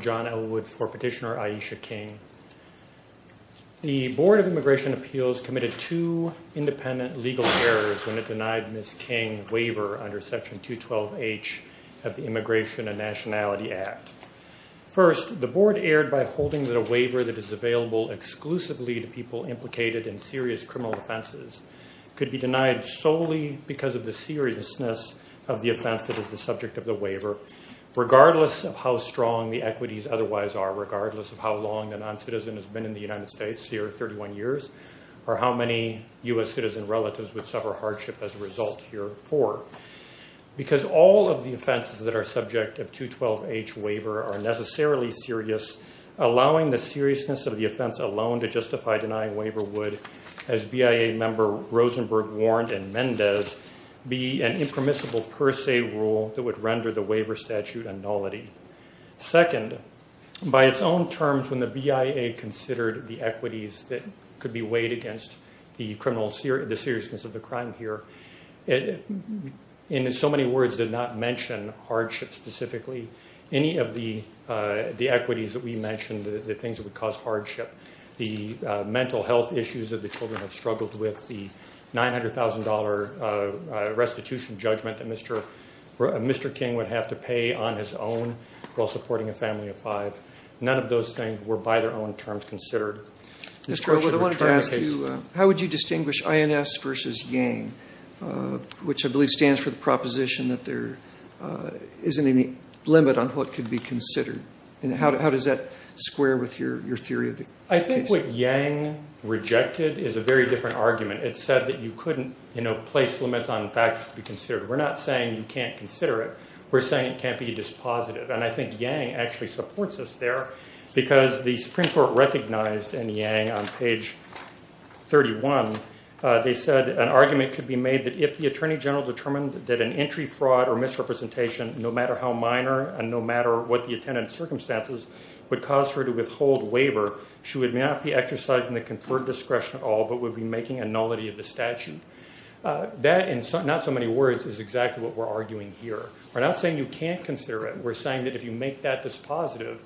John Elwood for Petitioner Aisha King. The Board of Immigration Appeals committed two independent legal errors when it denied Ms. King waiver under Section 212H of the Immigration and Nationality Act. First, the Board erred by holding that a waiver that is available exclusively to people implicated in serious criminal offenses could be denied solely because of the seriousness of the offense that is the subject of the waiver, regardless of how strong the equities otherwise are, regardless of how long a noncitizen has been in the United States here, 31 years, or how many U.S. citizen relatives would suffer hardship as a result here, four. Because all of the offenses that are subject of 212H waiver are necessarily serious, allowing the seriousness of the offense alone to justify denying waiver would, as BIA member Rosenberg warned in Mendez, be an impermissible per se rule that would render the waiver statute a nullity. Second, by its own terms, when the BIA considered the equities that could be weighed against the seriousness of the crime here, it in so many words did not mention hardship specifically. Any of the equities that we mentioned, the things that would cause hardship, the mental health issues that the children have struggled with, the $900,000 restitution judgment that Mr. King would have to pay on his own while supporting a family of five, none of those things were by their own terms considered. Mr. O'Rourke, I wanted to ask you, how would you distinguish INS versus YANG, which I believe stands for the proposition that there isn't any limit on what could be considered? How does that square with your theory of the case? I think what YANG rejected is a very different argument. It said that you couldn't place limits on factors to be considered. We're not saying you can't consider it. We're saying it can't be dispositive, and I think YANG actually supports us there because the Supreme Court recognized in YANG on page 31, they said an argument could be made that if the Attorney General determined that an entry fraud or misrepresentation, no matter how minor and no matter what the attendant circumstances, would cause her to withhold a waiver, she would not be exercising the conferred discretion at all, but would be making a nullity of the statute. That in not so many words is exactly what we're arguing here. We're not saying you can't consider it. We're saying that if you make that dispositive,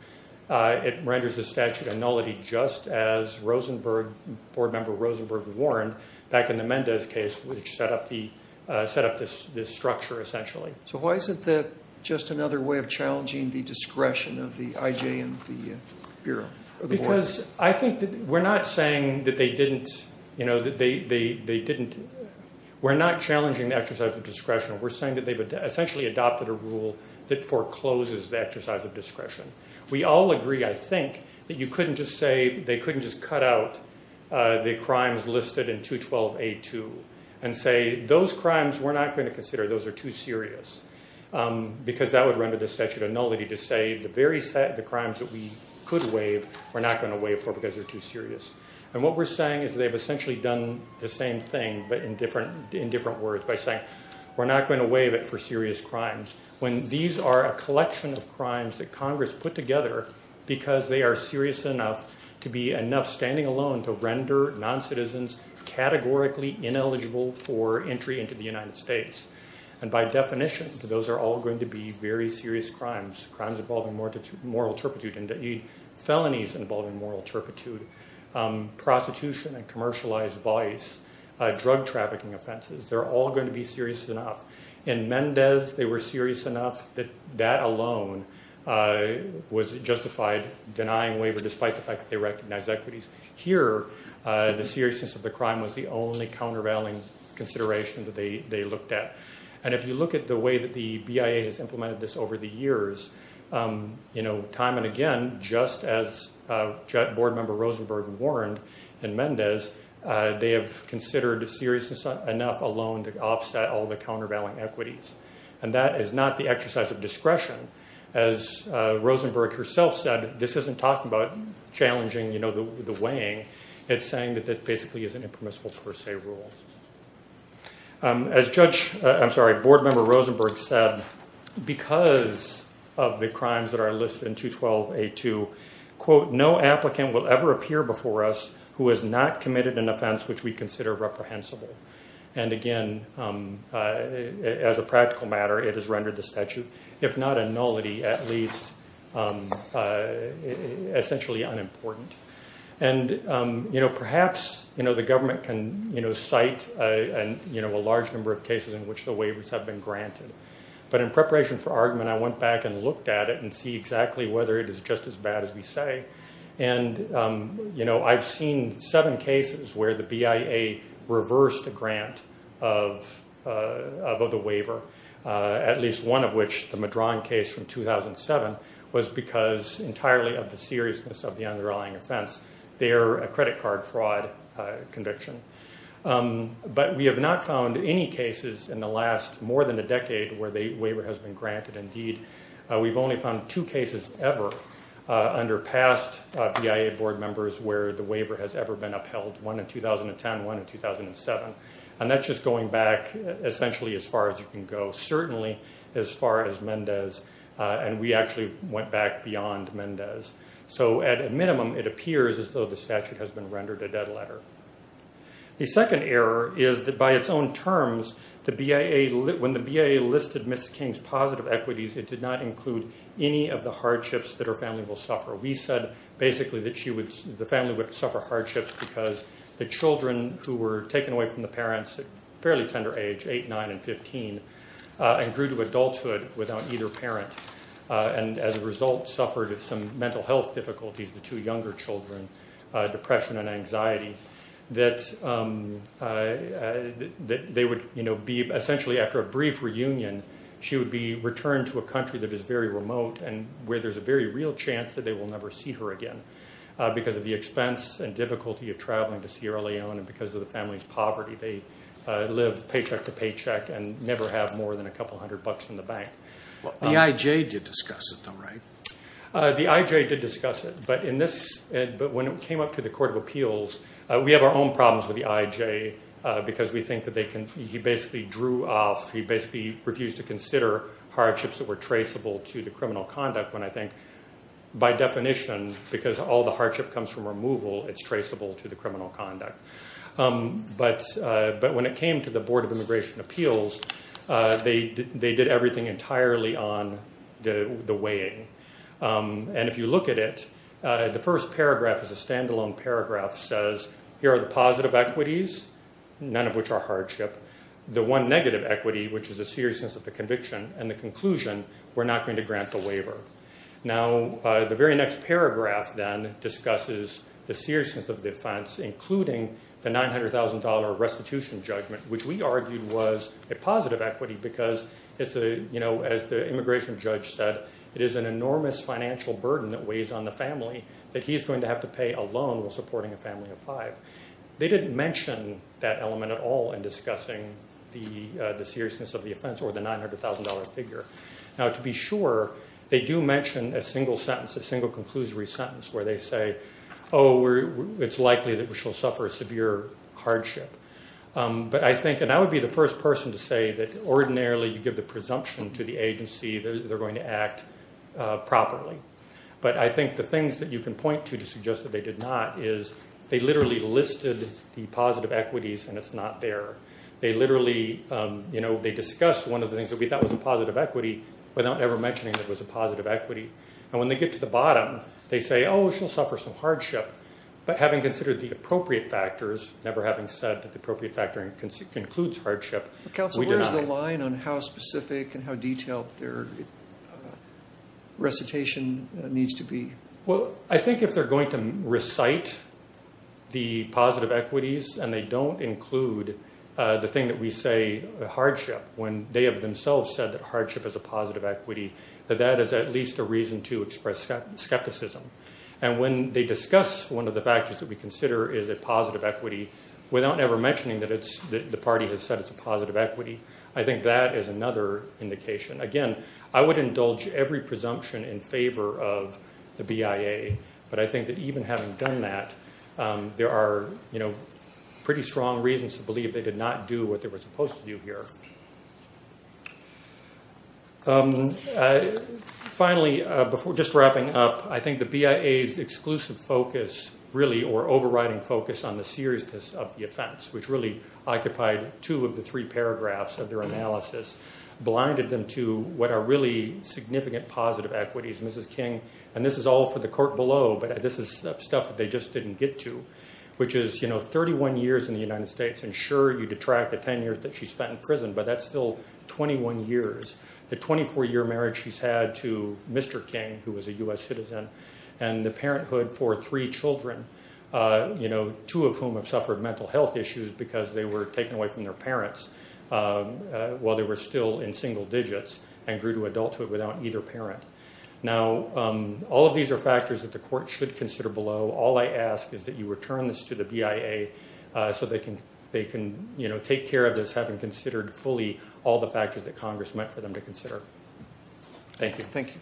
it renders the statute a nullity, just as Rosenberg, Board Member Rosenberg, warned back in the Mendez case, which set up this structure essentially. So why isn't that just another way of challenging the discretion of the IJ and the Bureau? Because I think that we're not saying that they didn't, you know, that they didn't, we're not challenging the exercise of discretion. We're saying that they've essentially adopted a rule that forecloses the exercise of discretion. We all agree, I think, that you couldn't just say, they couldn't just cut out the crimes we're not going to consider, those are too serious. Because that would render the statute a nullity to say, the crimes that we could waive, we're not going to waive for because they're too serious. And what we're saying is they've essentially done the same thing, but in different words by saying, we're not going to waive it for serious crimes. When these are a collection of crimes that Congress put together because they are serious enough to be enough standing alone to render non-citizens categorically ineligible for entry into the United States. And by definition, those are all going to be very serious crimes, crimes involving moral turpitude and felonies involving moral turpitude, prostitution and commercialized vice, drug trafficking offenses. They're all going to be serious enough. In Mendez, they were serious enough that that alone was justified denying waiver despite the fact that they recognized equities. Here, the seriousness of the crime was the only countervailing consideration that they looked at. And if you look at the way that the BIA has implemented this over the years, time and again, just as Board Member Rosenberg warned in Mendez, they have considered seriousness enough alone to offset all the countervailing equities. And that is not the exercise of discretion. As Rosenberg herself said, this isn't talking about challenging the weighing. It's saying that that basically is an impermissible per se rule. As Judge, I'm sorry, Board Member Rosenberg said, because of the crimes that are listed in 212A2, quote, no applicant will ever appear before us who has not committed an offense which we consider reprehensible. And again, as a practical matter, it is rendered the statute. If not a nullity, at least essentially unimportant. And perhaps the government can cite a large number of cases in which the waivers have been granted. But in preparation for argument, I went back and looked at it and see exactly whether it is just as bad as we say. And I've seen seven cases where the BIA reversed a grant of the waiver, at least one of which the Madron case from 2007, was because entirely of the seriousness of the underlying offense, their credit card fraud conviction. But we have not found any cases in the last more than a decade where the waiver has been granted. Indeed, we've only found two cases ever under past BIA board members where the waiver has ever been upheld, one in 2010, one in 2007. And that's just going back essentially as far as you can go. Certainly as far as Mendez. And we actually went back beyond Mendez. So at a minimum, it appears as though the statute has been rendered a dead letter. The second error is that by its own terms, when the BIA listed Ms. King's positive equities, it did not include any of the hardships that her family will suffer. We said basically that the family would suffer hardships because the children who were taken away from the parents at a fairly tender age, 8, 9, and 15, and grew to adulthood without either parent, and as a result suffered some mental health difficulties, the two younger children, depression and anxiety, that they would be essentially after a brief reunion, she would be returned to a country that is very remote and where there's a very real chance that they will never see her again because of the expense and difficulty of traveling to Sierra Leone and because of the family's poverty. They live paycheck to paycheck and never have more than a couple hundred bucks in the bank. The IJ did discuss it though, right? The IJ did discuss it, but when it came up to the Court of Appeals, we have our own problems with the IJ because we think that he basically drew off, he basically refused to consider hardships that were traceable to the criminal conduct when I think by definition, because all the hardship comes from removal, it's traceable to the criminal conduct, but when it came to the Board of Immigration Appeals, they did everything entirely on the weighing, and if you look at it, the first paragraph is a standalone paragraph says, here are the positive equities, none of which are hardship, the one negative equity, which is the seriousness of the conviction, and the conclusion, we're not going to grant the waiver. Now, the very next paragraph then discusses the seriousness of the offense, including the $900,000 restitution judgment, which we argued was a positive equity because it's a, you know, as the immigration judge said, it is an enormous financial burden that weighs on the family that he's going to have to pay alone while supporting a family of five. They didn't mention that element at all in discussing the seriousness of the offense or the $900,000 figure. Now, to be sure, they do mention a single sentence, a single conclusory sentence where they say, oh, it's likely that we shall suffer severe hardship, but I think, and I would be the first person to say that ordinarily you give the presumption to the agency that they're going to act properly, but I think the things that you can point to to suggest that they did not is they literally listed the positive equities and it's not there. They literally, you know, they discussed one of the things that we thought was a positive equity without ever mentioning that it was a positive equity. And when they get to the bottom, they say, oh, we shall suffer some hardship, but having considered the appropriate factors, never having said that the appropriate factor includes hardship, we did not. Council, where's the line on how specific and how detailed their recitation needs to be? Well, I think if they're going to recite the positive equities and they don't include the thing that we say, the hardship, when they have themselves said that hardship is a positive equity, that that is at least a reason to express skepticism. And when they discuss one of the factors that we consider is a positive equity without ever mentioning that it's the party has said it's a positive equity, I think that is another indication. Again, I would indulge every presumption in favor of the BIA, but I think that even having done that, there are, you know, pretty strong reasons to believe they did not do what they were supposed to do here. Finally, just wrapping up, I think the BIA's exclusive focus really or overriding focus on the seriousness of the offense, which really occupied two of the three paragraphs of their report. The first is to what are really significant positive equities, Mrs. King, and this is all for the court below, but this is stuff that they just didn't get to, which is, you know, 31 years in the United States. And sure, you detract the 10 years that she spent in prison, but that's still 21 years. The 24-year marriage she's had to Mr. King, who was a U.S. citizen, and the parenthood for three children, you know, two of whom have suffered mental health issues because they were taken away from their parents while they were still in single digits and grew to adulthood without either parent. Now, all of these are factors that the court should consider below. All I ask is that you return this to the BIA so they can, you know, take care of this having considered fully all the factors that Congress meant for them to consider. Thank you. Thank you.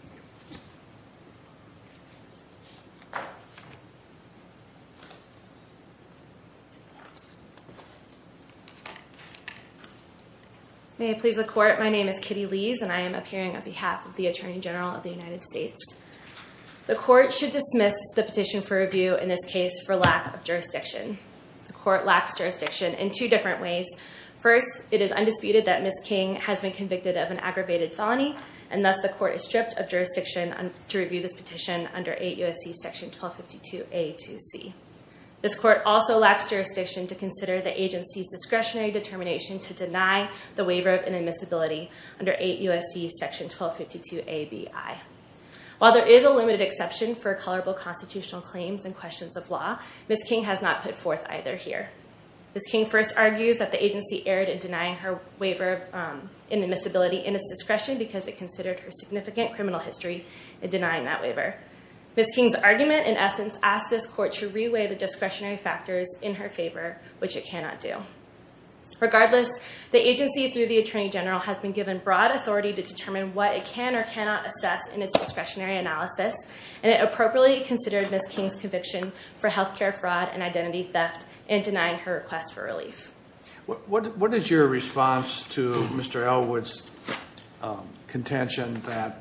May I please the court? My name is Kitty Lees, and I am appearing on behalf of the Attorney General of the United States. The court should dismiss the petition for review in this case for lack of jurisdiction. The court lacks jurisdiction in two different ways. First, it is undisputed that Ms. King has been convicted of an aggravated felony, and thus the court is stripped of jurisdiction to review this petition under 8 U.S.C. section 1252A-2C. This court also lacks jurisdiction to consider the agency's discretionary determination to deny the waiver of inadmissibility under 8 U.S.C. section 1252A-B-I. While there is a limited exception for colorable constitutional claims and questions of law, Ms. King has not put forth either here. Ms. King first argues that the agency erred in denying her waiver of inadmissibility in its discretion because it considered her significant criminal history in denying that waiver. Ms. King's argument, in essence, asks this court to reweigh the discretionary factors in her favor, which it cannot do. Regardless, the agency, through the Attorney General, has been given broad authority to determine what it can or cannot assess in its discretionary analysis, and it appropriately considered Ms. King's conviction for healthcare fraud and identity theft in denying her request for relief. What is your response to Mr. Elwood's contention that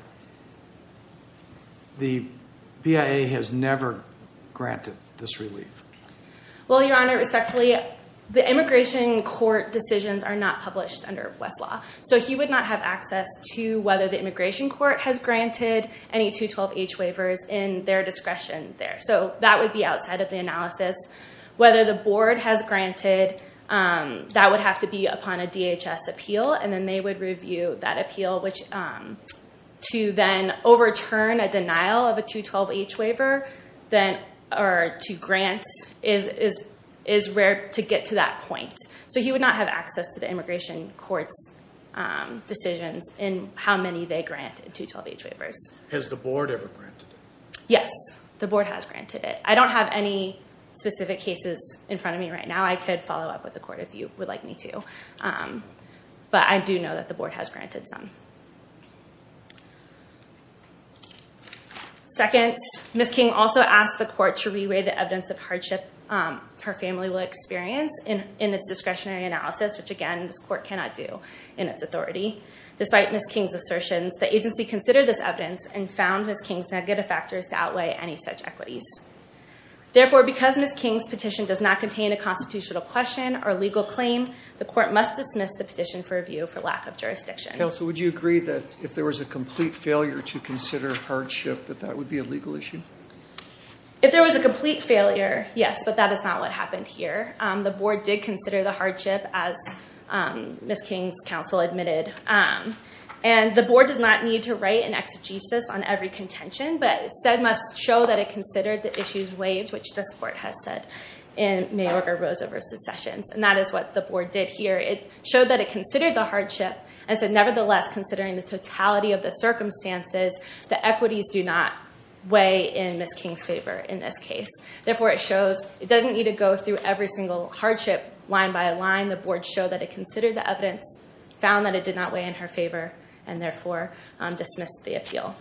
the BIA has never granted this relief? Well, Your Honor, respectfully, the immigration court decisions are not published under West Law, so he would not have access to whether the immigration court has granted any 212H waivers in their discretion there. So that would be outside of the analysis. Whether the board has granted, that would have to be upon a DHS appeal, and then they would review that appeal, which to then overturn a denial of a 212H waiver, or to grant, is rare to get to that point. So he would not have access to the immigration court's decisions in how many they granted 212H waivers. Has the board ever granted it? Yes. The board has granted it. I don't have any specific cases in front of me right now. I could follow up with the court if you would like me to, but I do know that the board has granted some. Second, Ms. King also asked the court to re-weigh the evidence of hardship her family will experience in its discretionary analysis, which, again, this court cannot do in its authority. Despite Ms. King's assertions, the agency considered this evidence and found Ms. King's negative factors to outweigh any such equities. Therefore, because Ms. King's petition does not contain a constitutional question or legal claim, the court must dismiss the petition for review for lack of jurisdiction. Counsel, would you agree that if there was a complete failure to consider hardship, that that would be a legal issue? If there was a complete failure, yes, but that is not what happened here. The board did consider the hardship, as Ms. King's counsel admitted, and the board does not need to write an exegesis on every contention, but said must show that it considered the issues weighed, which this court has said in Mayorker-Rosa v. Sessions, and that is what the board did here. It showed that it considered the hardship and said, nevertheless, considering the totality of the circumstances, the equities do not weigh in Ms. King's favor in this case. Therefore, it shows it doesn't need to go through every single hardship line by line. The board showed that it considered the evidence, found that it did not weigh in her favor, and therefore dismissed the appeal.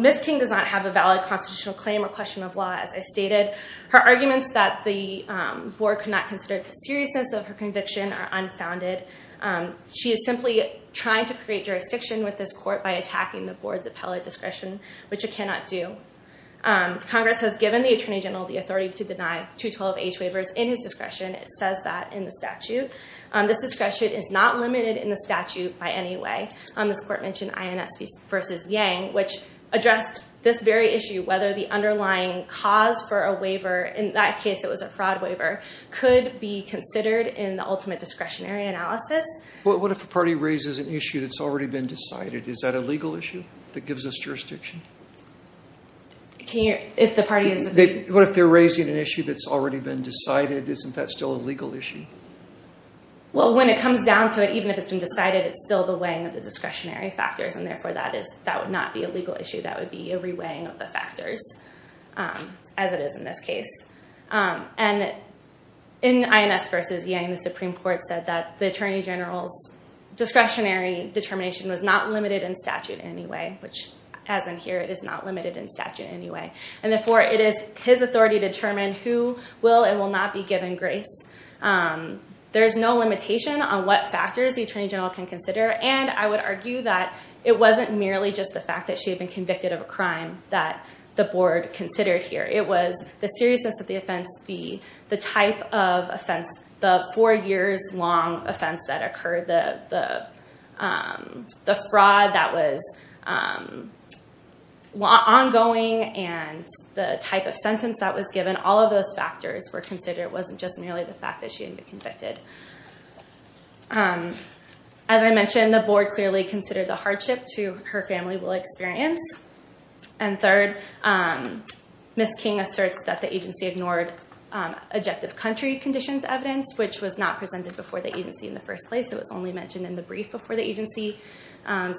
Ms. King does not have a valid constitutional claim or question of law, as I stated. Her arguments that the board could not consider the seriousness of her conviction are unfounded. She is simply trying to create jurisdiction with this court by attacking the board's appellate discretion, which it cannot do. Congress has given the Attorney General the authority to deny 212H waivers in his discretion. It says that in the statute. This discretion is not limited in the statute by any way. This court mentioned INS v. Yang, which addressed this very issue, whether the underlying cause for a waiver, in that case, it was a fraud waiver, could be considered in the ultimate discretionary analysis. What if a party raises an issue that's already been decided? Is that a legal issue that gives us jurisdiction? If the party is... What if they're raising an issue that's already been decided? Isn't that still a legal issue? Well, when it comes down to it, even if it's been decided, it's still the weighing of the discretionary factors, and therefore that would not be a legal issue. That would be a re-weighing of the factors, as it is in this case. In INS v. Yang, the Supreme Court said that the Attorney General's discretionary determination was not limited in statute in any way, which as in here, it is not limited in statute in any way. And therefore, it is his authority to determine who will and will not be given grace. There is no limitation on what factors the Attorney General can consider, and I would argue that it wasn't merely just the fact that she had been convicted of a crime that the board considered here. It was the seriousness of the offense, the type of offense, the four years long offense that occurred, the fraud that was ongoing, and the type of sentence that was given. All of those factors were considered. It wasn't just merely the fact that she had been convicted. As I mentioned, the board clearly considered the hardship to her family will experience. And third, Ms. King asserts that the agency ignored objective country conditions evidence, which was not presented before the agency in the first place. It was only mentioned in the brief before the agency.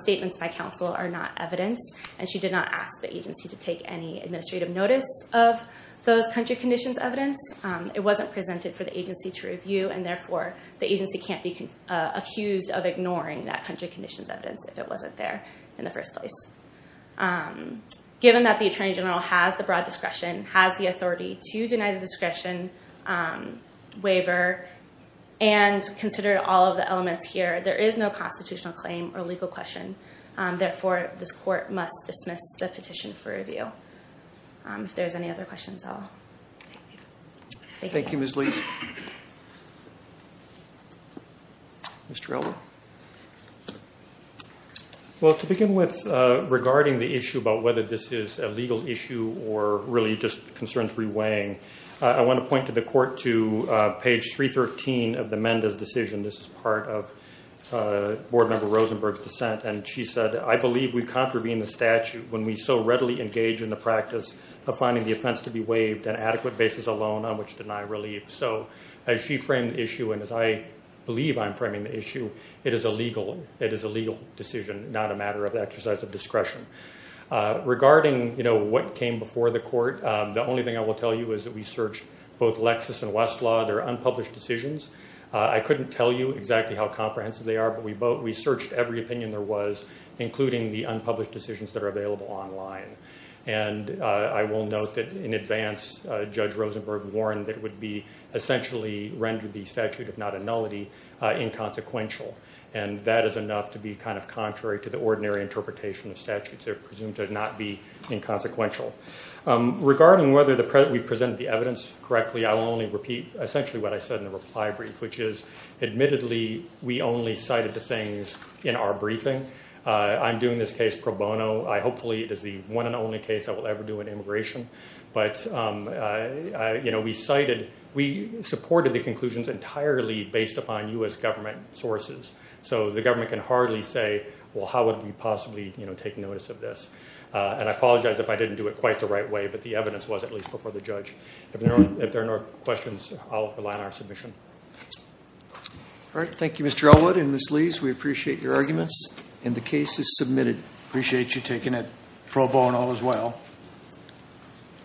Statements by counsel are not evidence, and she did not ask the agency to take any administrative notice of those country conditions evidence. It wasn't presented for the agency to review, and therefore, the agency can't be accused of ignoring that country conditions evidence if it wasn't there in the first place. Given that the Attorney General has the broad discretion, has the authority to deny the discretion, waiver, and consider all of the elements here, there is no constitutional claim or legal question. Therefore, this court must dismiss the petition for review. If there's any other questions, I'll thank you. Thank you, Ms. Lee. Mr. Elmore. Well, to begin with, regarding the issue about whether this is a legal issue or really just concerns reweighing, I want to point to the court to page 313 of the Mendes decision. This is part of Board Member Rosenberg's dissent, and she said, I believe we contravene the statute when we so readily engage in the practice of finding the offense to be waived on an adequate basis alone on which to deny relief. So as she framed the issue and as I believe I'm framing the issue, it is a legal decision, not a matter of exercise of discretion. Regarding what came before the court, the only thing I will tell you is that we searched both Lexis and Westlaw. They're unpublished decisions. I couldn't tell you exactly how comprehensive they are, but we searched every opinion there was, including the unpublished decisions that are available online. And I will note that in advance, Judge Rosenberg warned that it would be essentially rendered the statute, if not a nullity, inconsequential. And that is enough to be kind of contrary to the ordinary interpretation of statutes. They're presumed to not be inconsequential. Regarding whether we presented the evidence correctly, I will only repeat essentially what I said in the reply brief, which is, admittedly, we only cited the things in our briefing. I'm doing this case pro bono. Hopefully it is the one and only case I will ever do in immigration. But we supported the conclusions entirely based upon U.S. government sources. So the government can hardly say, well, how would we possibly take notice of this? And I apologize if I didn't do it quite the right way, but the evidence was at least before the judge. If there are no questions, I'll rely on our submission. All right. Thank you, Mr. Elwood and Ms. Lees. We appreciate your arguments. And the case is submitted. Appreciate you taking it pro bono as well. Thank you.